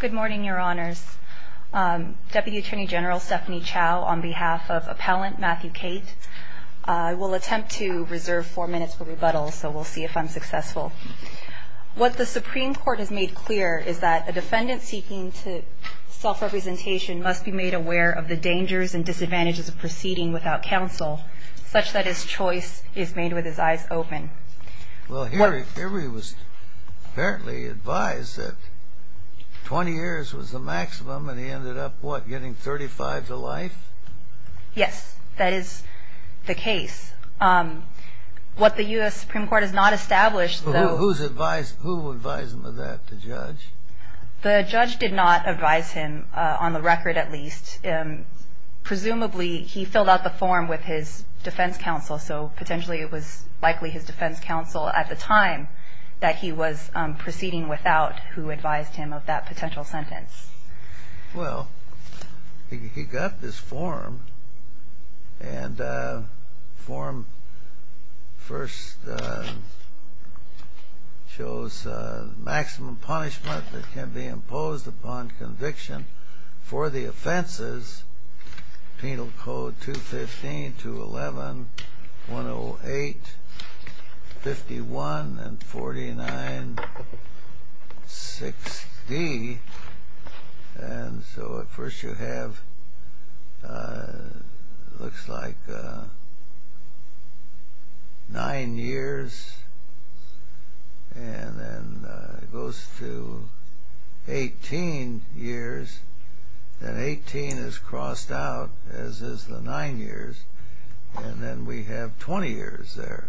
Good morning, Your Honors. Deputy Attorney General Stephanie Chow, on behalf of Appellant Matthew Cate, I will attempt to reserve four minutes for rebuttal, so we'll see if I'm successful. What the Supreme Court has made clear is that a defendant seeking self-representation must be made aware of the dangers and disadvantages of proceeding without counsel, such that his choice is made with his eyes open. Well, here he was apparently advised that 20 years was the maximum, and he ended up, what, getting 35 to life? Yes, that is the case. What the U.S. Supreme Court has not established, though… Who advised him of that, the judge? The judge did not advise him, on the record at least. Presumably he filled out the form with his defense counsel, so potentially it was likely his defense counsel at the time that he was proceeding without who advised him of that potential sentence. Well, he got this form, and the form first shows maximum punishment that can be imposed upon conviction for the offenses Penal Code 215, 211, 108, 51, and 49, 6D, and so at first you have, looks like, nine years, and then it goes to 18 years, then 18 is crossed out, as is the nine years, and then we have 20 years there.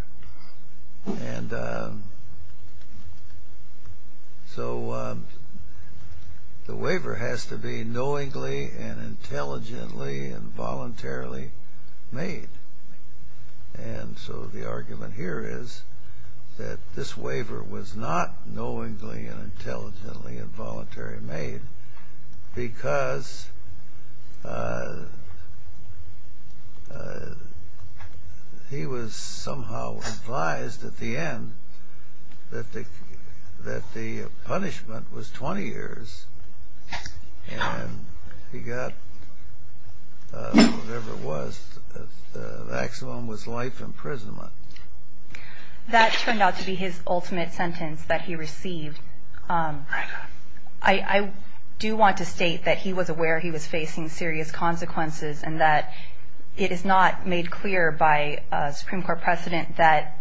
And so the waiver has to be knowingly and intelligently and voluntarily made, and so the argument here is that this waiver was not knowingly and intelligently and voluntarily made because he was somehow advised at the end that the punishment was 20 years, and he got whatever it was, the maximum was life imprisonment. That turned out to be his ultimate sentence that he received. I do want to state that he was aware he was facing serious consequences and that it is not made clear by Supreme Court precedent that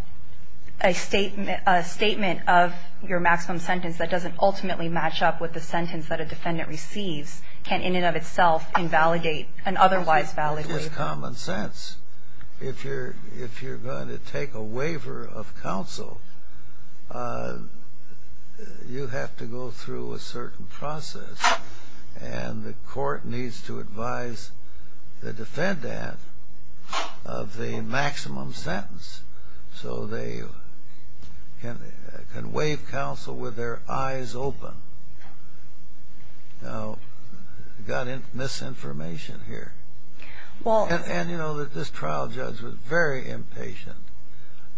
a statement of your maximum sentence that doesn't ultimately match up with the sentence that a defendant receives can in and of itself invalidate an otherwise valid waiver. It is common sense. If you're going to take a waiver of counsel, you have to go through a certain process, and the court needs to advise the defendant of the maximum sentence so they can waive counsel with their eyes open. Now, you've got misinformation here. And you know that this trial judge was very impatient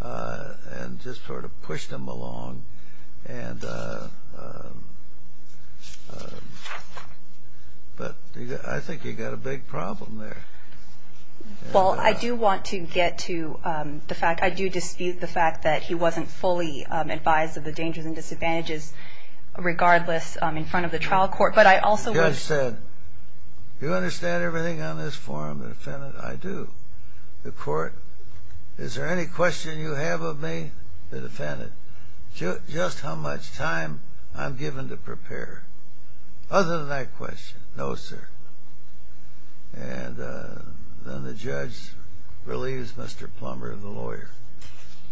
and just sort of pushed him along, but I think you've got a big problem there. Well, I do want to get to the fact, I do dispute the fact that he wasn't fully advised of the dangers and disadvantages regardless in front of the trial court, but I also... The judge said, you understand everything on this form, defendant? I do. The court, is there any question you have of me, the defendant? Just how much time I'm given to prepare. Other than that question, no, sir. And then the judge relieves Mr. Plummer, the lawyer.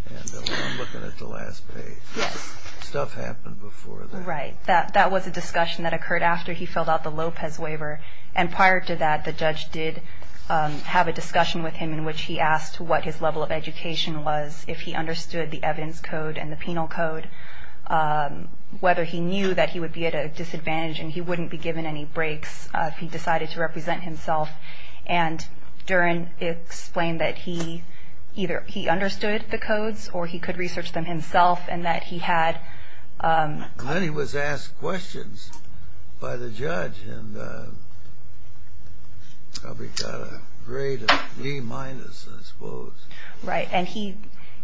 And I'm looking at the last page. Yes. Stuff happened before that. Right. That was a discussion that occurred after he filled out the Lopez waiver. And prior to that, the judge did have a discussion with him in which he asked what his level of education was, if he understood the evidence code and the penal code, whether he knew that he would be at a disadvantage and he wouldn't be given any breaks if he decided to represent himself. And Duren explained that he either he understood the codes or he could research them himself and that he had... And then he was asked questions by the judge and probably got a grade of D minus, I suppose. Right. And he,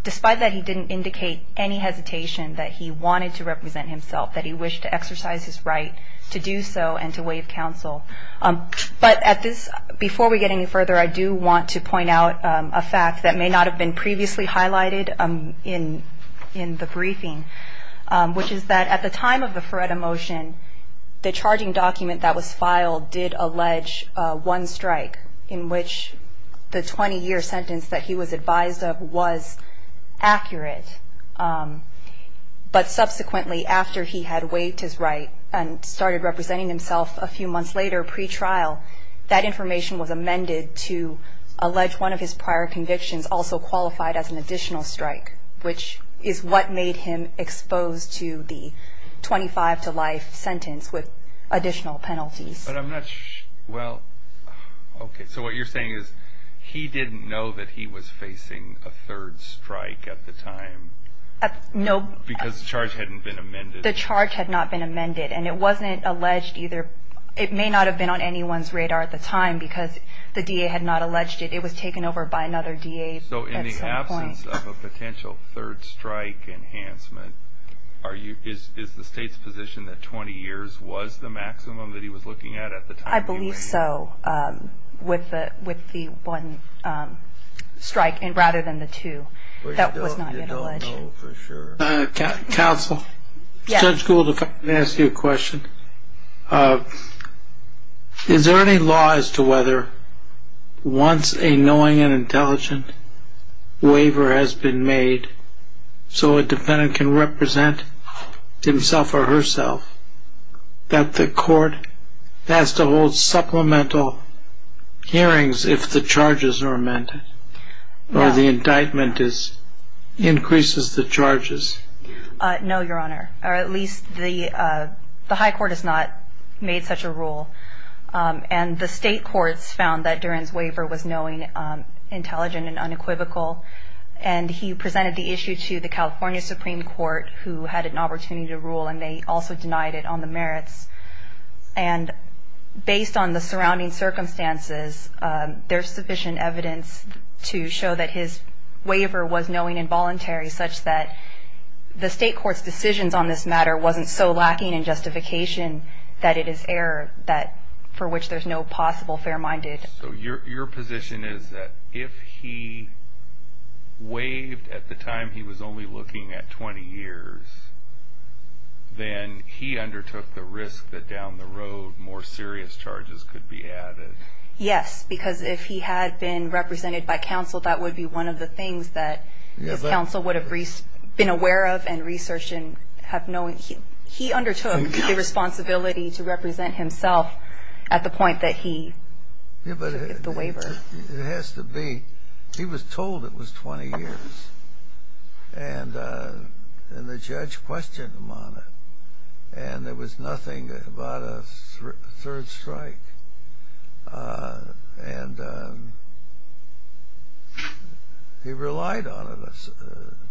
despite that, he didn't indicate any hesitation that he wanted to represent himself, that he wished to exercise his right to do so and to waive counsel. But at this, before we get any further, I do want to point out a fact that may not have been previously highlighted in the briefing, which is that at the time of the Feretta motion, the charging document that was filed did allege one strike in which the 20-year sentence that he was advised of was accurate. But subsequently, after he had waived his right and started representing himself a few months later pre-trial, that information was amended to allege one of his prior convictions also qualified as an additional strike, which is what made him exposed to the 25-to-life sentence with additional penalties. But I'm not... Well, okay. So what you're saying is he didn't know that he was facing a third strike at the time? No. Because the charge hadn't been amended? The charge had not been amended, and it wasn't alleged either. It may not have been on anyone's radar at the time because the DA had not alleged it. It was taken over by another DA at some point. So in the absence of a potential third strike enhancement, is the State's position that 20 years was the maximum that he was looking at at the time? I believe so, with the one strike rather than the two. That was not alleged. You don't know for sure. Counsel, Judge Gould will ask you a question. Is there any law as to whether once a knowing and intelligent waiver has been made so a defendant can represent himself or herself, that the court has to hold supplemental hearings if the charges are amended, or the indictment increases the charges? No, Your Honor, or at least the high court has not made such a rule. And the State courts found that Duren's waiver was knowing, intelligent, and unequivocal, and he presented the issue to the California Supreme Court, who had an opportunity to rule, and they also denied it on the merits. And based on the surrounding circumstances, there's sufficient evidence to show that his waiver was knowing and voluntary, such that the State court's decisions on this matter wasn't so lacking in justification that it is error for which there's no possible fair-minded. So your position is that if he waived at the time he was only looking at 20 years, then he undertook the risk that down the road more serious charges could be added? Yes, because if he had been represented by counsel, that would be one of the things that counsel would have been aware of and researched. He undertook the responsibility to represent himself at the point that he took the waiver. It has to be. He was told it was 20 years, and the judge questioned him on it, and there was nothing about a third strike. And he relied on it,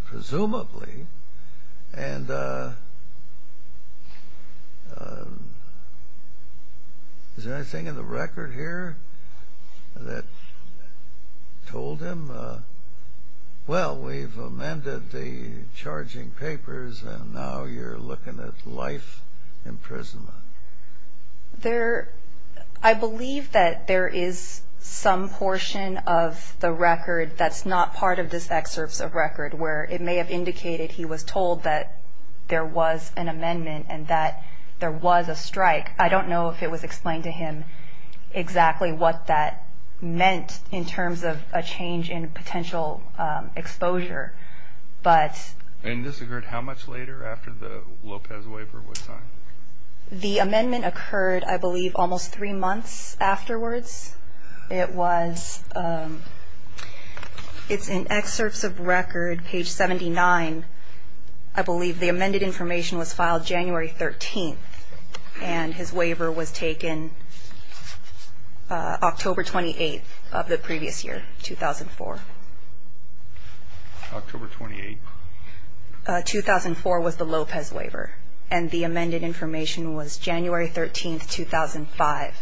presumably. And is there anything in the record here that told him, well, we've amended the charging papers, and now you're looking at life imprisonment? I believe that there is some portion of the record that's not part of this excerpt of record where it may have indicated he was told that there was an amendment and that there was a strike. I don't know if it was explained to him exactly what that meant in terms of a change in potential exposure. And this occurred how much later after the Lopez waiver was signed? The amendment occurred, I believe, almost three months afterwards. It's in excerpts of record, page 79. I believe the amended information was filed January 13th, and his waiver was taken October 28th of the previous year, 2004. October 28th? 2004 was the Lopez waiver, and the amended information was January 13th, 2005.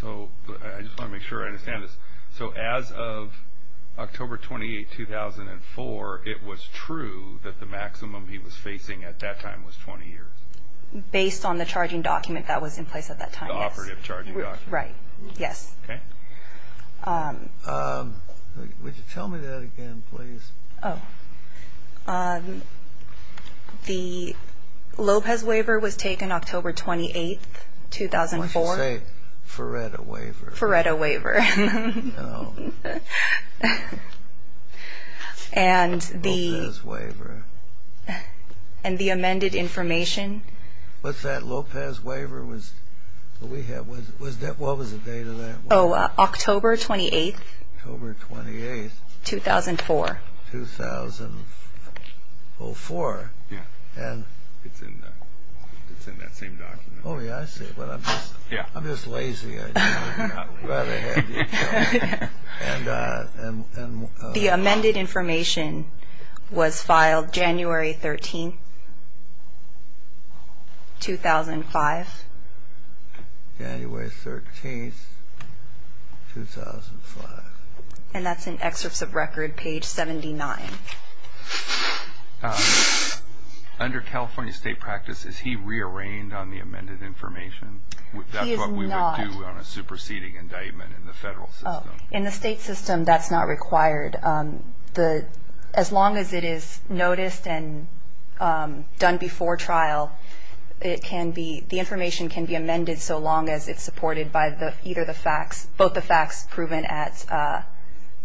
So I just want to make sure I understand this. So as of October 28th, 2004, it was true that the maximum he was facing at that time was 20 years? Based on the charging document that was in place at that time, yes. Right, yes. Would you tell me that again, please? Oh. The Lopez waiver was taken October 28th, 2004. I should say, Feretta waiver. Feretta waiver. And the amended information. What's that? Lopez waiver was, what was the date of that? Oh, October 28th. October 28th. 2004. 2004. Yeah. It's in that same document. Oh, yeah, I see. I'm just lazy. The amended information was filed January 13th, 2005. January 13th, 2005. And that's in excerpts of record, page 79. Under California state practice, is he re-arraigned on the amended information? He is not. That's what we would do on a superseding indictment in the federal system. In the state system, that's not required. As long as it is noticed and done before trial, the information can be amended so long as it's supported by either the facts, both the facts proven at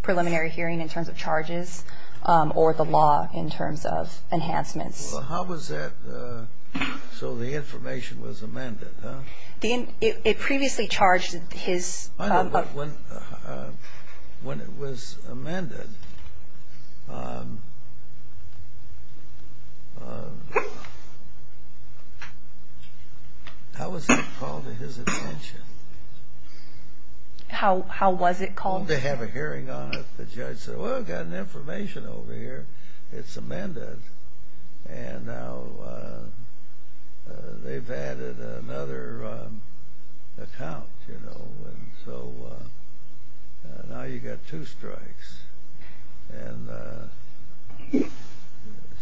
preliminary hearing in terms of charges or the law in terms of enhancements. How was that so the information was amended? It previously charged his... I know, but when it was amended, how was it called to his attention? How was it called? They have a hearing on it. The judge said, well, we've got an information over here. It's amended. And now they've added another account, you know. So now you've got two strikes.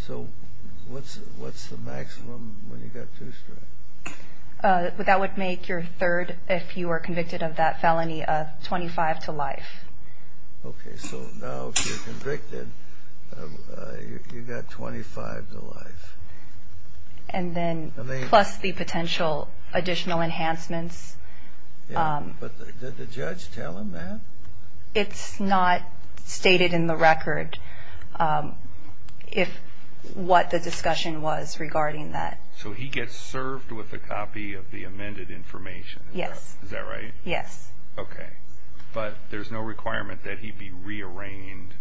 So what's the maximum when you've got two strikes? That would make your third, if you were convicted of that felony, 25 to life. Okay, so now if you're convicted, you've got 25 to life. And then plus the potential additional enhancements. Yeah, but did the judge tell him that? It's not stated in the record what the discussion was regarding that. So he gets served with a copy of the amended information. Yes. Is that right? Yes. Okay, but there's no requirement that he be rearranged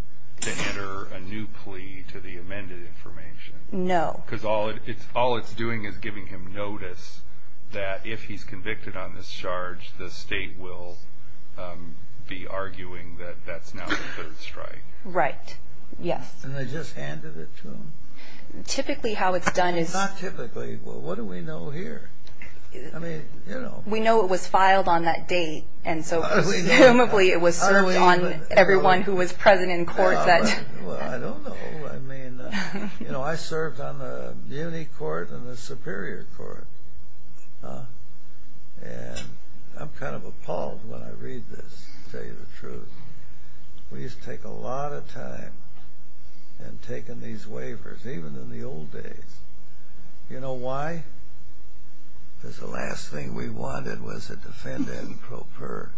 to enter a new plea to the amended information. No. Because all it's doing is giving him notice that if he's convicted on this charge, the state will be arguing that that's now the third strike. Right, yes. And they just handed it to him? Typically how it's done is... Not typically. Well, what do we know here? I mean, you know. We know it was filed on that date, and so presumably it was served on everyone who was present in court. Well, I don't know. I mean, you know, I served on the uni court and the superior court. And I'm kind of appalled when I read this, to tell you the truth. We used to take a lot of time in taking these waivers, even in the old days. You know why? Because the last thing we wanted was a defendant pro per.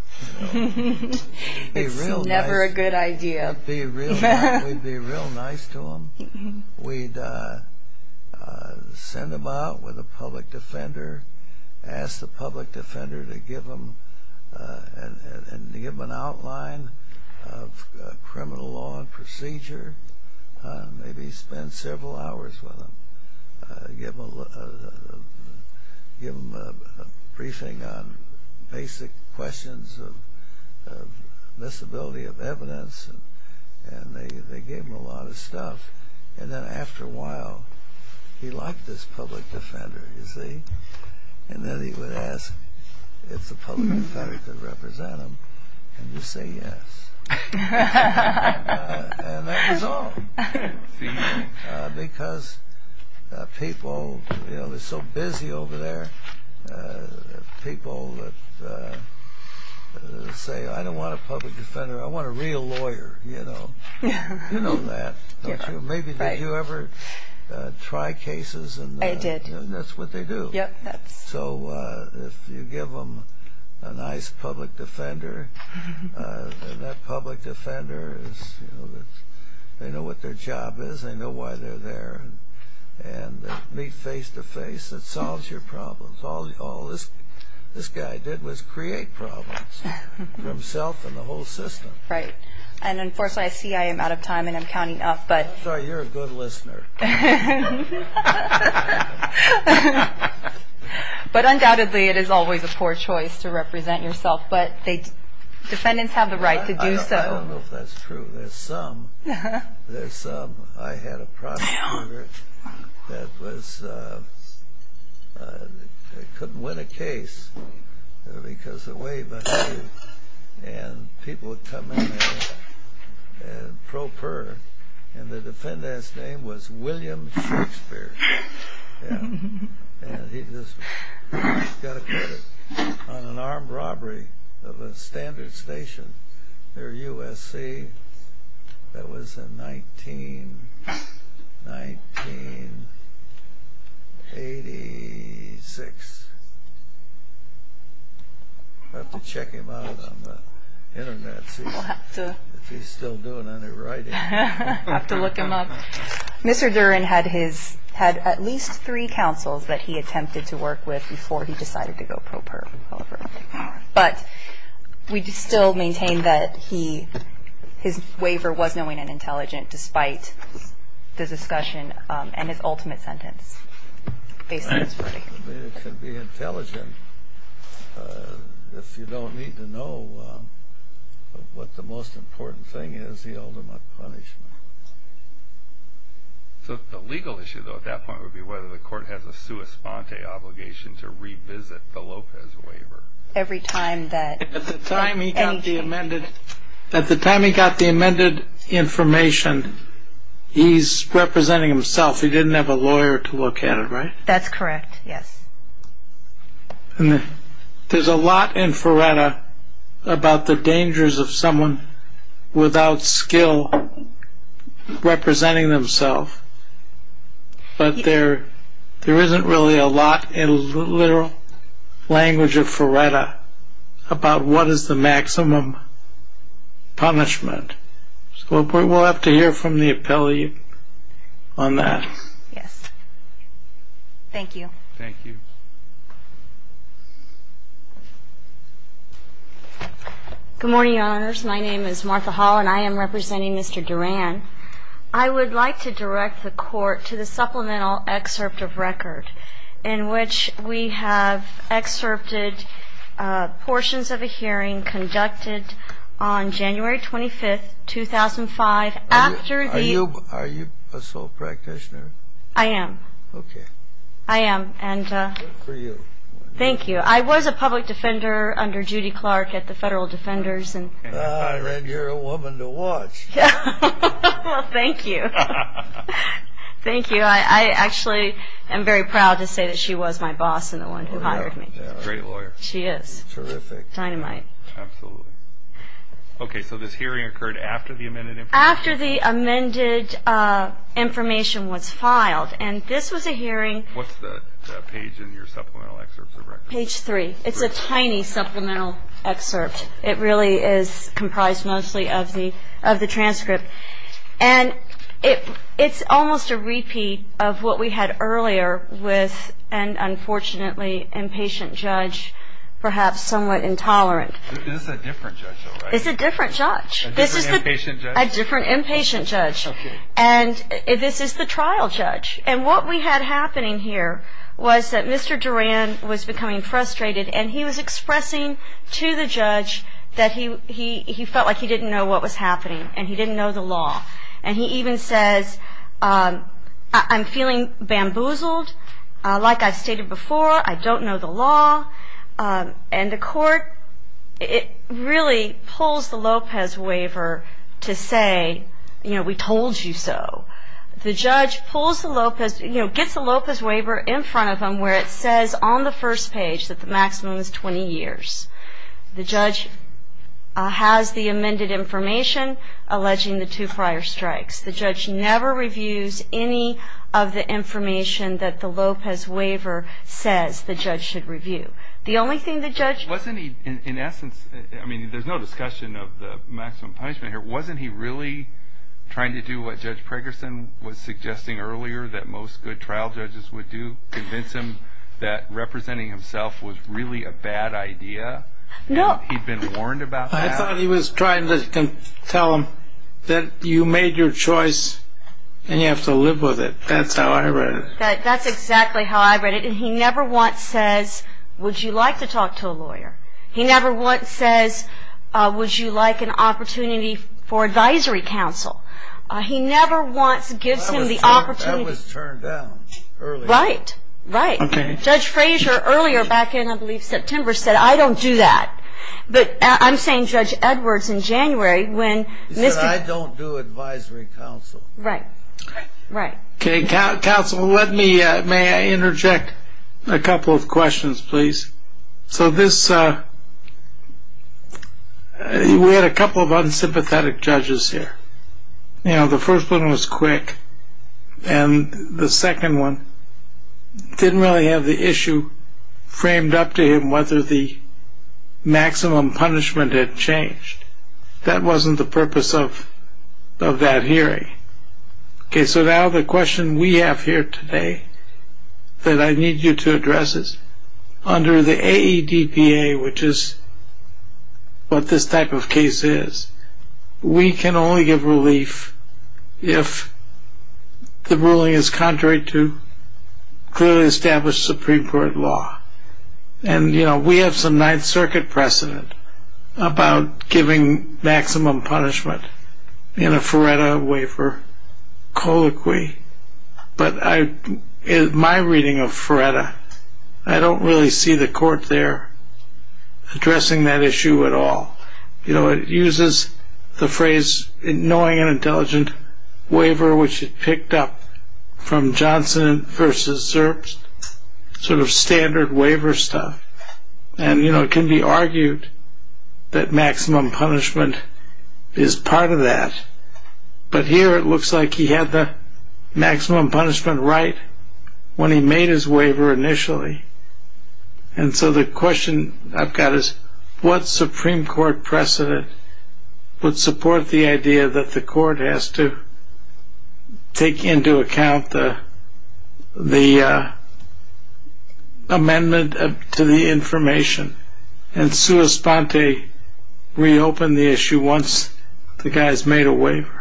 It's never a good idea. We'd be real nice to him. We'd send him out with a public defender, ask the public defender to give him an outline of criminal law and procedure. Maybe spend several hours with him. Give him a briefing on basic questions of miscibility of evidence. And they gave him a lot of stuff. And then after a while, he liked this public defender, you see? And then he would ask if the public defender could represent him. And you say yes. And that was all. Because people, you know, they're so busy over there. People that say, I don't want a public defender. I want a real lawyer, you know? You know that, don't you? Maybe did you ever try cases? I did. And that's what they do. Yep. So if you give them a nice public defender, that public defender, they know what their job is. They know why they're there. And meet face to face. It solves your problems. All this guy did was create problems for himself and the whole system. Right. And unfortunately, I see I am out of time and I'm counting up. I'm sorry, you're a good listener. But undoubtedly, it is always a poor choice to represent yourself. But defendants have the right to do so. I don't know if that's true. There's some. There's some. I had a prosecutor that couldn't win a case because of way behind. And people would come in there and probe her. And the defendant's name was William Shakespeare. Yeah. And he just got a credit on an armed robbery of a standard station near USC. That was in 1986. I'll have to check him out on the Internet and see if he's still doing any writing. I'll have to look him up. Mr. Duren had at least three counsels that he attempted to work with before he decided to go probe her. But we still maintain that his waiver was knowing and intelligent despite the discussion and his ultimate sentence. Based on his writing. It can be intelligent if you don't need to know what the most important thing is, the ultimate punishment. So the legal issue, though, at that point would be whether the court has a sua sponte obligation to revisit the Lopez waiver. Every time that. At the time he got the amended information, he's representing himself. He didn't have a lawyer to look at it, right? That's correct. Yes. There's a lot in Feretta about the dangers of someone without skill representing themselves. But there isn't really a lot in the literal language of Feretta about what is the maximum punishment. We'll have to hear from the appellate on that. Yes. Thank you. Thank you. Good morning, honors. I would like to direct the court to the supplemental excerpt of record in which we have excerpted portions of a hearing conducted on January 25th, 2005. Are you a sole practitioner? I am. Okay. I am. Good for you. Thank you. I was a public defender under Judy Clark at the Federal Defenders. I read you're a woman to watch. Well, thank you. Thank you. I actually am very proud to say that she was my boss and the one who hired me. Great lawyer. She is. Terrific. Dynamite. Absolutely. Okay. So this hearing occurred after the amended information? After the amended information was filed. And this was a hearing. What's the page in your supplemental excerpt of record? Page three. It's a tiny supplemental excerpt. It really is comprised mostly of the transcript. And it's almost a repeat of what we had earlier with an unfortunately impatient judge, perhaps somewhat intolerant. This is a different judge, though, right? It's a different judge. A different inpatient judge? A different inpatient judge. Okay. And this is the trial judge. And what we had happening here was that Mr. Duran was becoming frustrated, and he was expressing to the judge that he felt like he didn't know what was happening and he didn't know the law. And he even says, I'm feeling bamboozled. Like I've stated before, I don't know the law. And the court really pulls the Lopez waiver to say, you know, we told you so. The judge pulls the Lopez, you know, gets the Lopez waiver in front of him where it says on the first page that the maximum is 20 years. The judge has the amended information alleging the two prior strikes. The judge never reviews any of the information that the Lopez waiver says the judge should review. The only thing the judge. Wasn't he, in essence, I mean, there's no discussion of the maximum punishment here. Wasn't he really trying to do what Judge Pregerson was suggesting earlier that most good trial judges would do, convince him that representing himself was really a bad idea? No. He'd been warned about that? I thought he was trying to tell him that you made your choice and you have to live with it. That's how I read it. That's exactly how I read it. And he never once says, would you like to talk to a lawyer? He never once says, would you like an opportunity for advisory council? He never once gives him the opportunity. That was turned down earlier. Right. Judge Frazier earlier back in, I believe, September said, I don't do that. But I'm saying Judge Edwards in January when. He said, I don't do advisory council. Right. Right. Okay, counsel, let me, may I interject a couple of questions, please? So this, we had a couple of unsympathetic judges here. You know, the first one was quick, and the second one didn't really have the issue framed up to him whether the maximum punishment had changed. That wasn't the purpose of that hearing. Okay, so now the question we have here today that I need you to address is, under the AEDPA, which is what this type of case is, we can only give relief if the ruling is contrary to clearly established Supreme Court law. And, you know, we have some Ninth Circuit precedent about giving maximum punishment in a Feretta waiver colloquy. But in my reading of Feretta, I don't really see the court there addressing that issue at all. You know, it uses the phrase, knowing and intelligent waiver, which it picked up from Johnson v. Zerbst, sort of standard waiver stuff. And, you know, it can be argued that maximum punishment is part of that. But here it looks like he had the maximum punishment right when he made his waiver initially. And so the question I've got is, what Supreme Court precedent would support the idea that the court has to take into account the amendment to the information and sua sponte reopen the issue once the guy's made a waiver?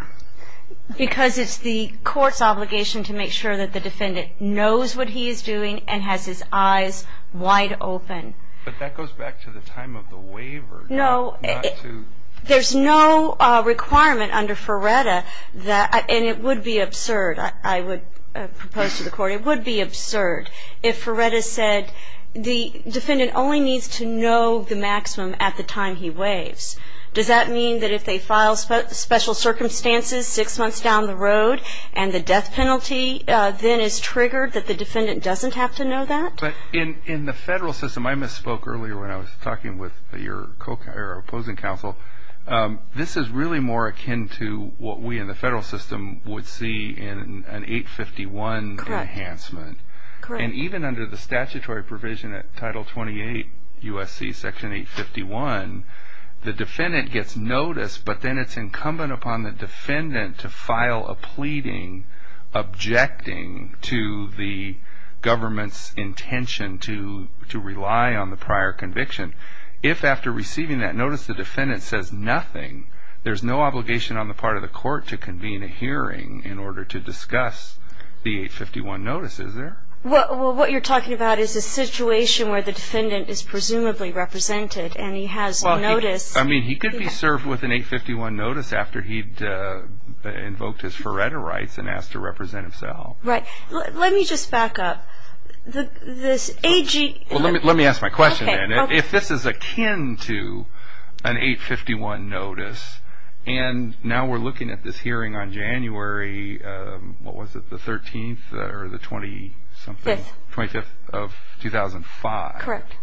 Because it's the court's obligation to make sure that the defendant knows what he is doing and has his eyes wide open. But that goes back to the time of the waiver. No. There's no requirement under Feretta that, and it would be absurd, I would propose to the court, it would be absurd if Feretta said the defendant only needs to know the maximum at the time he waives. Does that mean that if they file special circumstances six months down the road and the death penalty then is triggered that the defendant doesn't have to know that? But in the federal system, I misspoke earlier when I was talking with your opposing counsel, this is really more akin to what we in the federal system would see in an 851 enhancement. And even under the statutory provision at Title 28 U.S.C. Section 851, the defendant gets notice but then it's incumbent upon the defendant to file a pleading to the government's intention to rely on the prior conviction. If after receiving that notice the defendant says nothing, there's no obligation on the part of the court to convene a hearing in order to discuss the 851 notice, is there? Well, what you're talking about is a situation where the defendant is presumably represented and he has notice. I mean, he could be served with an 851 notice after he'd invoked his Feretta rights and asked to represent himself. Right. Let me just back up. Let me ask my question then. If this is akin to an 851 notice and now we're looking at this hearing on January, what was it, the 13th or the 20-something? Fifth. 25th of 2005. Correct.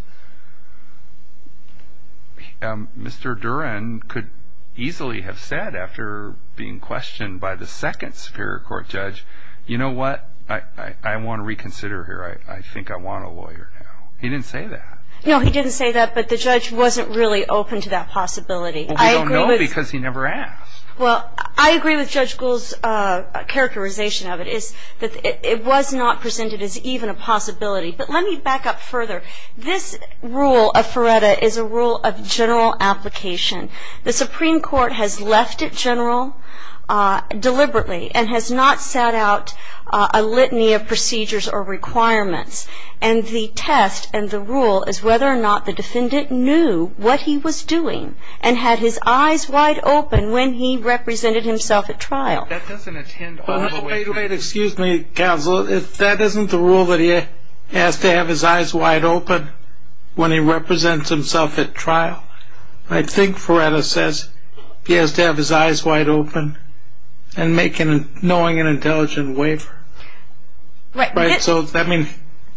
Mr. Duren could easily have said after being questioned by the second Superior Court judge, you know what, I want to reconsider here. I think I want a lawyer now. He didn't say that. No, he didn't say that, but the judge wasn't really open to that possibility. Well, we don't know because he never asked. Well, I agree with Judge Gould's characterization of it is that it was not presented as even a possibility. But let me back up further. This rule of Feretta is a rule of general application. The Supreme Court has left it general deliberately and has not set out a litany of procedures or requirements. And the test and the rule is whether or not the defendant knew what he was doing and had his eyes wide open when he represented himself at trial. Well, wait, wait, excuse me, counsel. That isn't the rule that he has to have his eyes wide open when he represents himself at trial. I think Feretta says he has to have his eyes wide open and knowing and intelligent waiver. Right. So, I mean,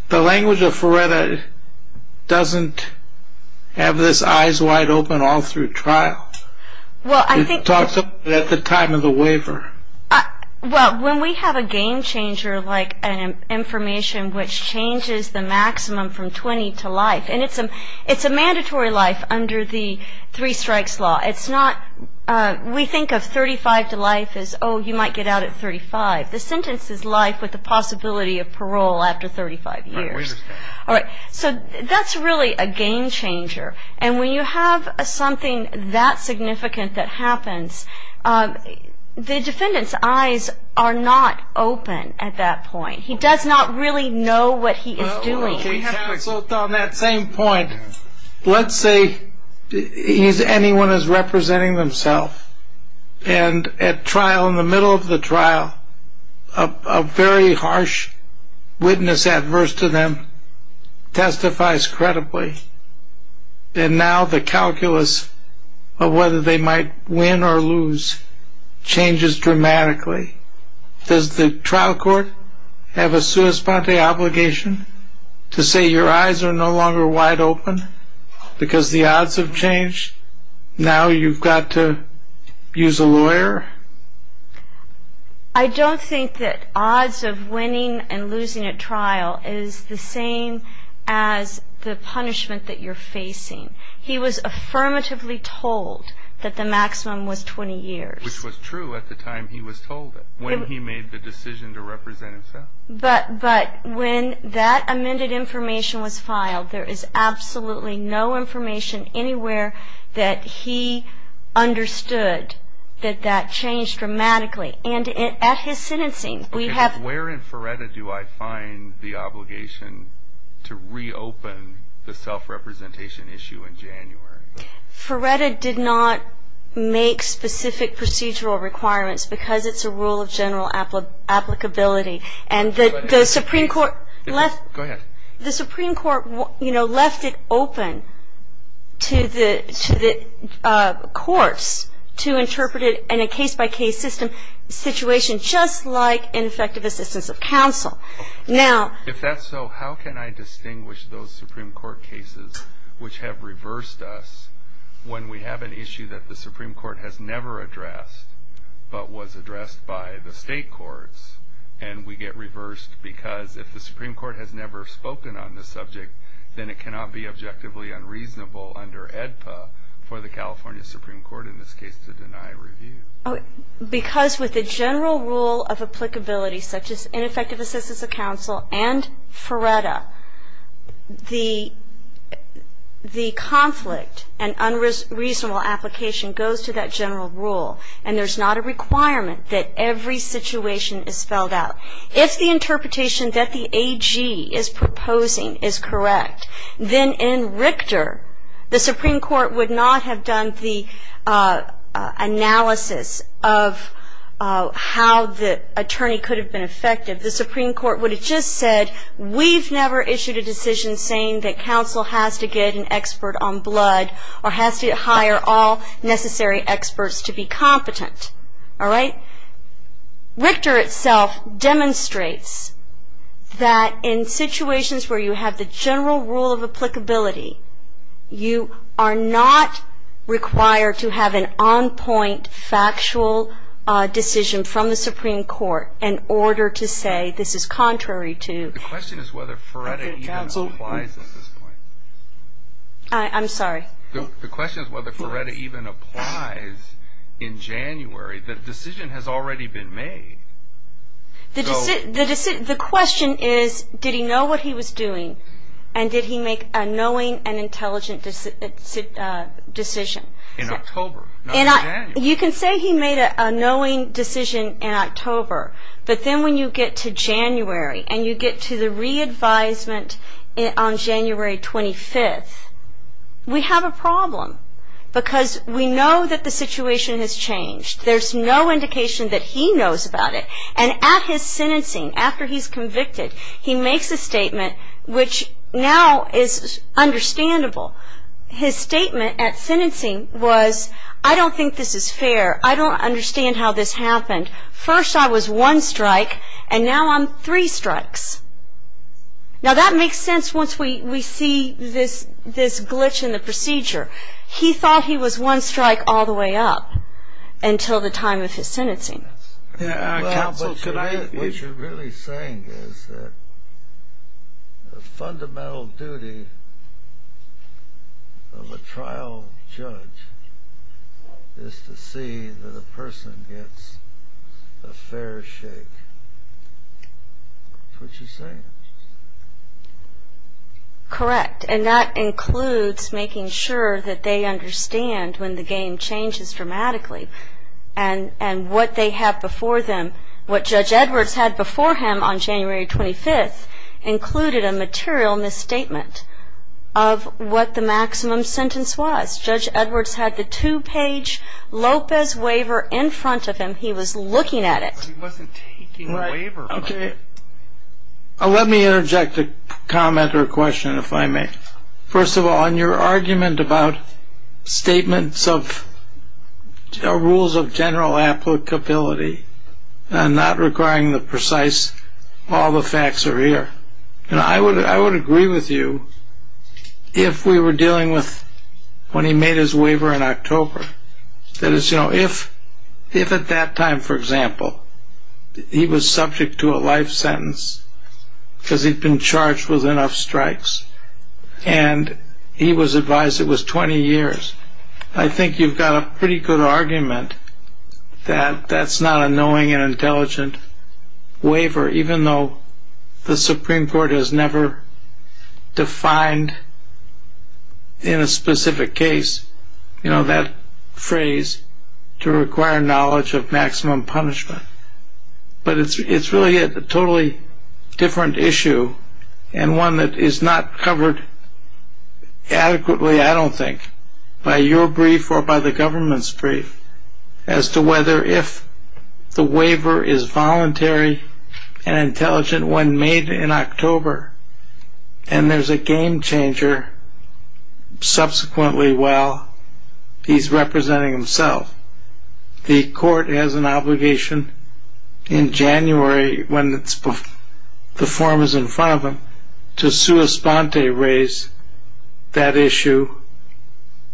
the language of Feretta doesn't have his eyes wide open all through trial. He talks of it at the time of the waiver. Well, when we have a game changer like an information which changes the maximum from 20 to life, and it's a mandatory life under the three strikes law. It's not, we think of 35 to life as, oh, you might get out at 35. The sentence is life with the possibility of parole after 35 years. I understand. All right, so that's really a game changer. And when you have something that significant that happens, the defendant's eyes are not open at that point. He does not really know what he is doing. Counsel, on that same point, let's say anyone is representing themselves, and at trial, in the middle of the trial, a very harsh witness adverse to them testifies credibly. And now the calculus of whether they might win or lose changes dramatically. Does the trial court have a sua sponte obligation to say your eyes are no longer wide open because the odds have changed? Now you've got to use a lawyer? I don't think that odds of winning and losing at trial is the same as the punishment that you're facing. He was affirmatively told that the maximum was 20 years. Which was true at the time he was told it, when he made the decision to represent himself. But when that amended information was filed, there is absolutely no information anywhere that he understood that that changed dramatically. And at his sentencing, we have Okay, but where in FRERTA do I find the obligation to reopen the self-representation issue in January? FRERTA did not make specific procedural requirements because it's a rule of general applicability. And the Supreme Court left it open to the courts to interpret it in a case-by-case system situation, just like ineffective assistance of counsel. If that's so, how can I distinguish those Supreme Court cases which have reversed us when we have an issue that the Supreme Court has never addressed but was addressed by the state courts and we get reversed because if the Supreme Court has never spoken on the subject, then it cannot be objectively unreasonable under AEDPA for the California Supreme Court in this case to deny review. Because with the general rule of applicability, such as ineffective assistance of counsel and FRERTA, the conflict and unreasonable application goes to that general rule. And there's not a requirement that every situation is spelled out. If the interpretation that the AG is proposing is correct, then in Richter, the Supreme Court would not have done the analysis of how the attorney could have been effective. The Supreme Court would have just said, we've never issued a decision saying that counsel has to get an expert on blood or has to hire all necessary experts to be competent. All right? Richter itself demonstrates that in situations where you have the general rule of applicability, you are not required to have an on-point factual decision from the Supreme Court in order to say this is contrary to. The question is whether FRERTA even applies at this point. I'm sorry? The question is whether FRERTA even applies in January. The decision has already been made. The question is, did he know what he was doing, and did he make a knowing and intelligent decision? In October, not in January. You can say he made a knowing decision in October, but then when you get to January and you get to the re-advisement on January 25th, we have a problem because we know that the situation has changed. There's no indication that he knows about it. And at his sentencing, after he's convicted, he makes a statement which now is understandable. His statement at sentencing was, I don't think this is fair. I don't understand how this happened. First I was one strike, and now I'm three strikes. Now, that makes sense once we see this glitch in the procedure. He thought he was one strike all the way up until the time of his sentencing. Counsel, what you're really saying is that the fundamental duty of a trial judge is to see that a person gets a fair shake. That's what you're saying. Correct. And that includes making sure that they understand when the game changes dramatically and what they have before them. What Judge Edwards had before him on January 25th included a material misstatement of what the maximum sentence was. Judge Edwards had the two-page Lopez waiver in front of him. He was looking at it. But he wasn't taking the waiver from him. Let me interject a comment or a question, if I may. First of all, in your argument about statements of rules of general applicability and not requiring the precise, all the facts are here, I would agree with you if we were dealing with when he made his waiver in October. That is, if at that time, for example, he was subject to a life sentence because he'd been charged with enough strikes, and he was advised it was 20 years, I think you've got a pretty good argument that that's not a knowing and intelligent waiver, even though the Supreme Court has never defined in a specific case that phrase to require knowledge of maximum punishment. But it's really a totally different issue and one that is not covered adequately, I don't think, by your brief or by the government's brief as to whether if the waiver is voluntary and intelligent when made in October, and there's a game-changer subsequently while he's representing himself. The court has an obligation in January when the form is in front of him to sua sponte raise that issue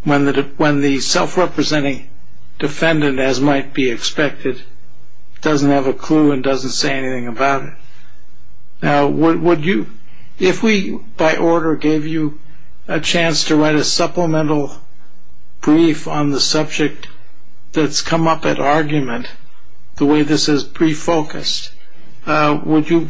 when the self-representing defendant, as might be expected, doesn't have a clue and doesn't say anything about it. If we, by order, gave you a chance to write a supplemental brief on the subject that's come up at argument, the way this is pre-focused, would you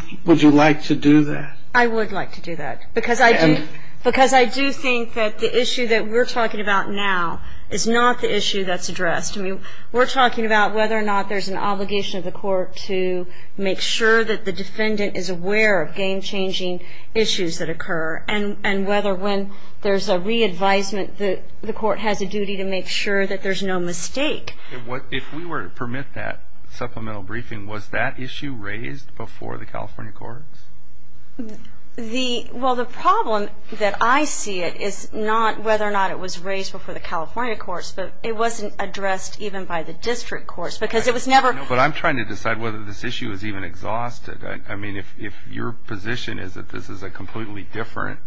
like to do that? I would like to do that because I do think that the issue that we're talking about now is not the issue that's addressed. We're talking about whether or not there's an obligation of the court to make sure that the defendant is aware of game-changing issues that occur and whether when there's a re-advisement, the court has a duty to make sure that there's no mistake. If we were to permit that supplemental briefing, was that issue raised before the California courts? Well, the problem that I see it is not whether or not it was raised before the California courts, but it wasn't addressed even by the district courts because it was never. But I'm trying to decide whether this issue is even exhausted. I mean, if your position is that this is a completely different.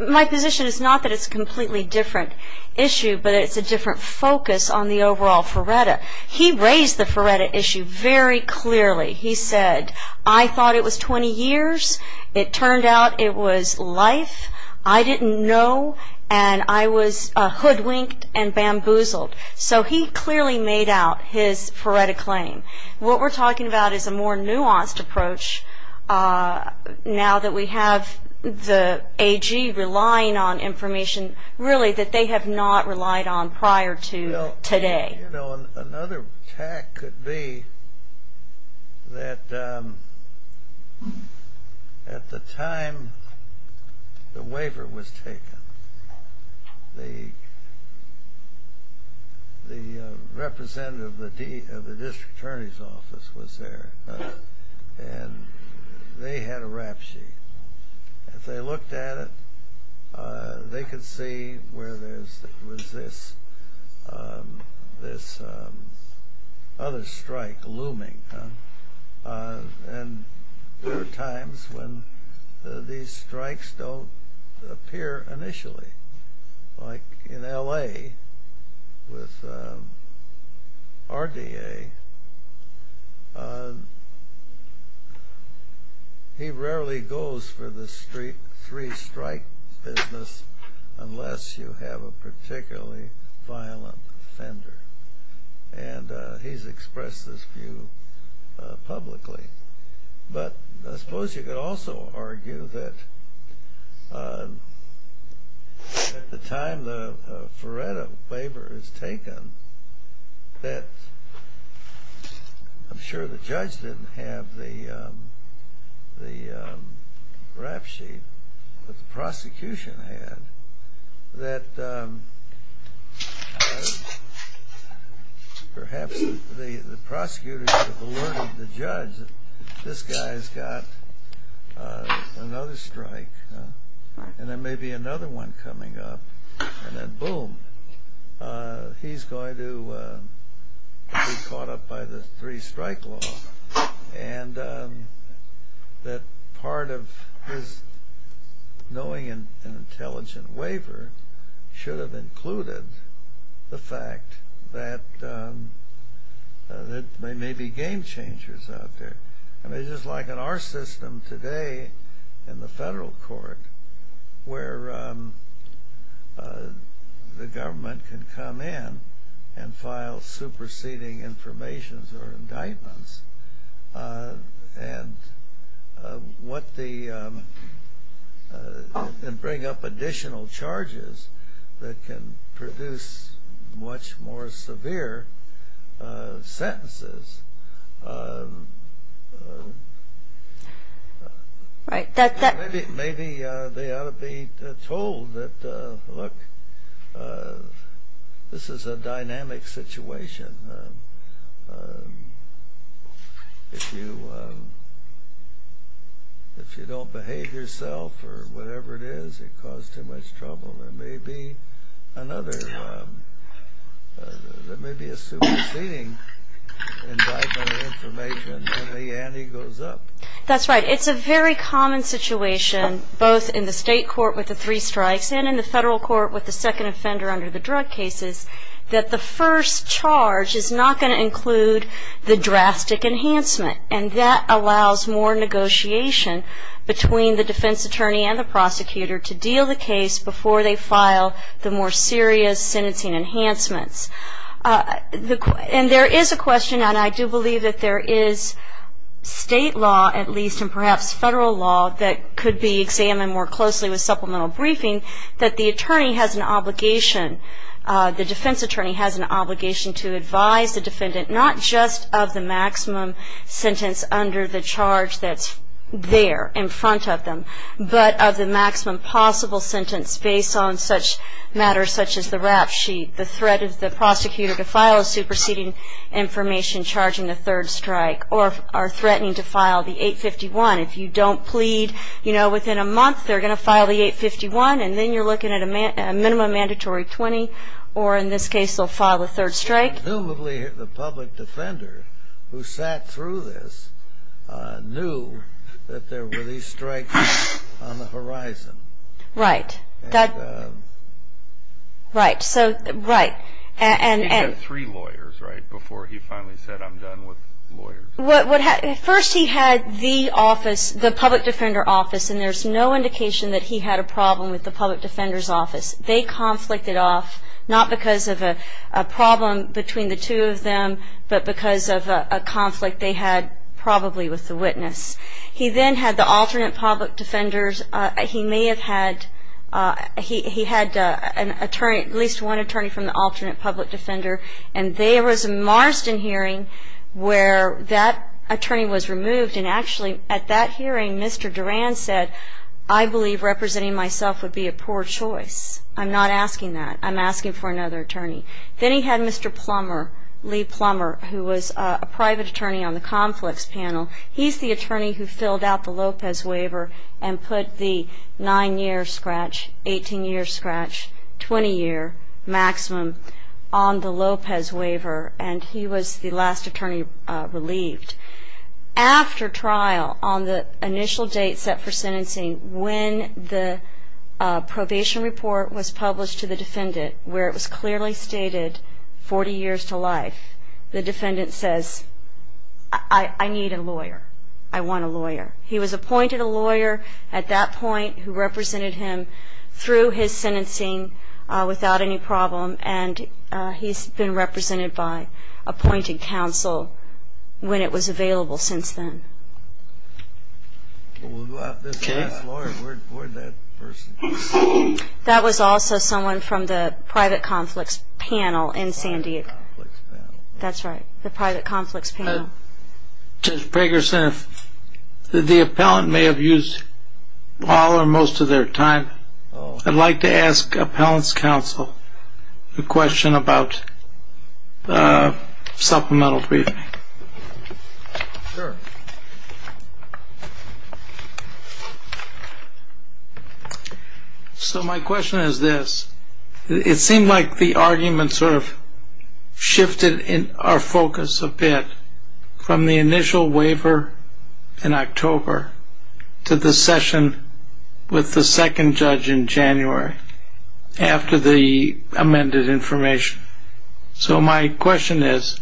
My position is not that it's a completely different issue, but it's a different focus on the overall Ferretta. He raised the Ferretta issue very clearly. He said, I thought it was 20 years. It turned out it was life. I didn't know, and I was hoodwinked and bamboozled. So he clearly made out his Ferretta claim. What we're talking about is a more nuanced approach now that we have the AG relying on information, really, that they have not relied on prior to today. You know, another tact could be that at the time the waiver was taken, the representative of the district attorney's office was there, and they had a rap sheet. If they looked at it, they could see where there was this other strike looming. And there are times when these strikes don't appear initially. Like in L.A. with RDA, he rarely goes for the three-strike business unless you have a particularly violent offender. And he's expressed this view publicly. But I suppose you could also argue that at the time the Ferretta waiver is taken, that I'm sure the judge didn't have the rap sheet, but the prosecution had, that perhaps the prosecutor should have alerted the judge that this guy's got another strike, and there may be another one coming up, and then boom, he's going to be caught up by the three-strike law. And that part of his knowing an intelligent waiver should have included the fact that there may be game changers out there. I mean, just like in our system today in the federal court, where the government can come in and file superseding informations or indictments, and bring up additional charges that can produce much more severe sentences. Maybe they ought to be told that, look, this is a dynamic situation. If you don't behave yourself or whatever it is, you cause too much trouble. There may be a superseding indictment or information, and the ante goes up. That's right. It's a very common situation, both in the state court with the three strikes and in the federal court with the second offender under the drug cases, that the first charge is not going to include the drastic enhancement. And that allows more negotiation between the defense attorney and the prosecutor to deal the case before they file the more serious sentencing enhancements. And there is a question, and I do believe that there is state law, at least, and perhaps federal law that could be examined more closely with supplemental briefing, that the attorney has an obligation, the defense attorney has an obligation to advise the defendant, not just of the maximum sentence under the charge that's there in front of them, but of the maximum possible sentence based on such matters such as the rap sheet, the threat of the prosecutor to file a superseding information charging a third strike, or are threatening to file the 851. If you don't plead, you know, within a month they're going to file the 851, and then you're looking at a minimum mandatory 20, or in this case they'll file a third strike. Presumably the public defender who sat through this knew that there were these strikes on the horizon. Right. Right, so, right. He had three lawyers, right, before he finally said, I'm done with lawyers. First he had the office, the public defender office, and there's no indication that he had a problem with the public defender's office. They conflicted off, not because of a problem between the two of them, but because of a conflict they had probably with the witness. He then had the alternate public defenders. He may have had, he had an attorney, at least one attorney from the alternate public defender, and there was a Marsden hearing where that attorney was removed, and actually at that hearing Mr. Duran said, I believe representing myself would be a poor choice. I'm not asking that. I'm asking for another attorney. Then he had Mr. Plummer, Lee Plummer, who was a private attorney on the conflicts panel. He's the attorney who filled out the Lopez waiver and put the nine-year scratch, 18-year scratch, 20-year maximum on the Lopez waiver, and he was the last attorney relieved. After trial, on the initial date set for sentencing, when the probation report was published to the defendant where it was clearly stated 40 years to life, the defendant says, I need a lawyer. I want a lawyer. He was appointed a lawyer at that point who represented him through his sentencing without any problem, and he's been represented by appointed counsel when it was available since then. Okay. That was also someone from the private conflicts panel in San Diego. That's right, the private conflicts panel. Judge Pregerson, the appellant may have used all or most of their time. I'd like to ask appellant's counsel a question about supplemental briefing. Sure. So my question is this. It seemed like the argument sort of shifted our focus a bit from the initial waiver in October to the session with the second judge in January after the amended information. So my question is,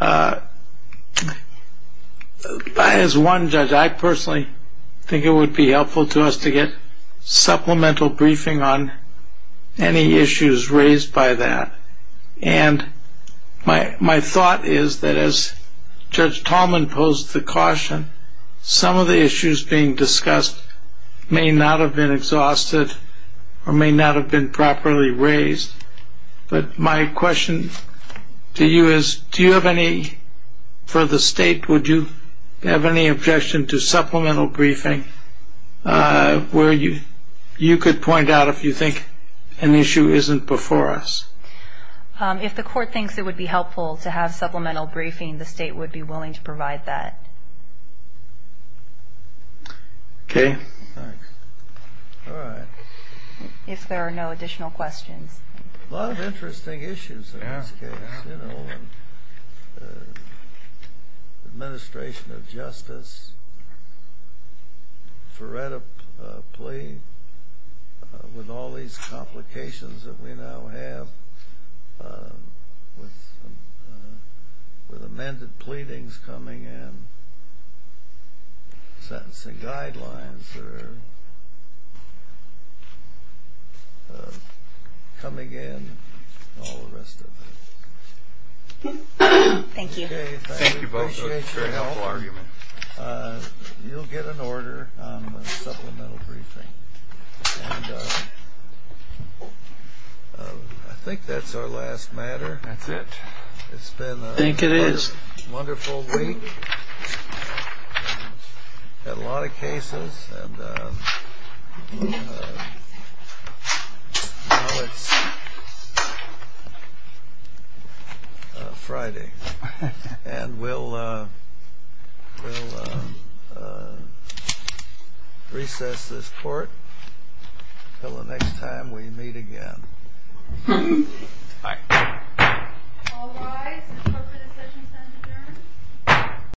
as one judge, I personally think it would be helpful to us to get supplemental briefing on any issues raised by that, and my thought is that as Judge Tallman posed the caution, some of the issues being discussed may not have been exhausted or may not have been properly raised, but my question to you is do you have any, for the state, would you have any objection to supplemental briefing where you could point out if you think an issue isn't before us? If the court thinks it would be helpful to have supplemental briefing, the state would be willing to provide that. Okay, thanks. All right. If there are no additional questions. A lot of interesting issues in this case, you know, administration of justice, Feretta plea with all these complications that we now have with amended pleadings coming in, sentencing guidelines that are coming in, and all the rest of it. Thank you. Thank you both. I appreciate your help. You'll get an order on the supplemental briefing. I think that's our last matter. That's it. I think it is. It's been a wonderful week. Had a lot of cases. And now it's Friday. And we'll recess this court until the next time we meet again. Bye. All rise. The department of session is now adjourned.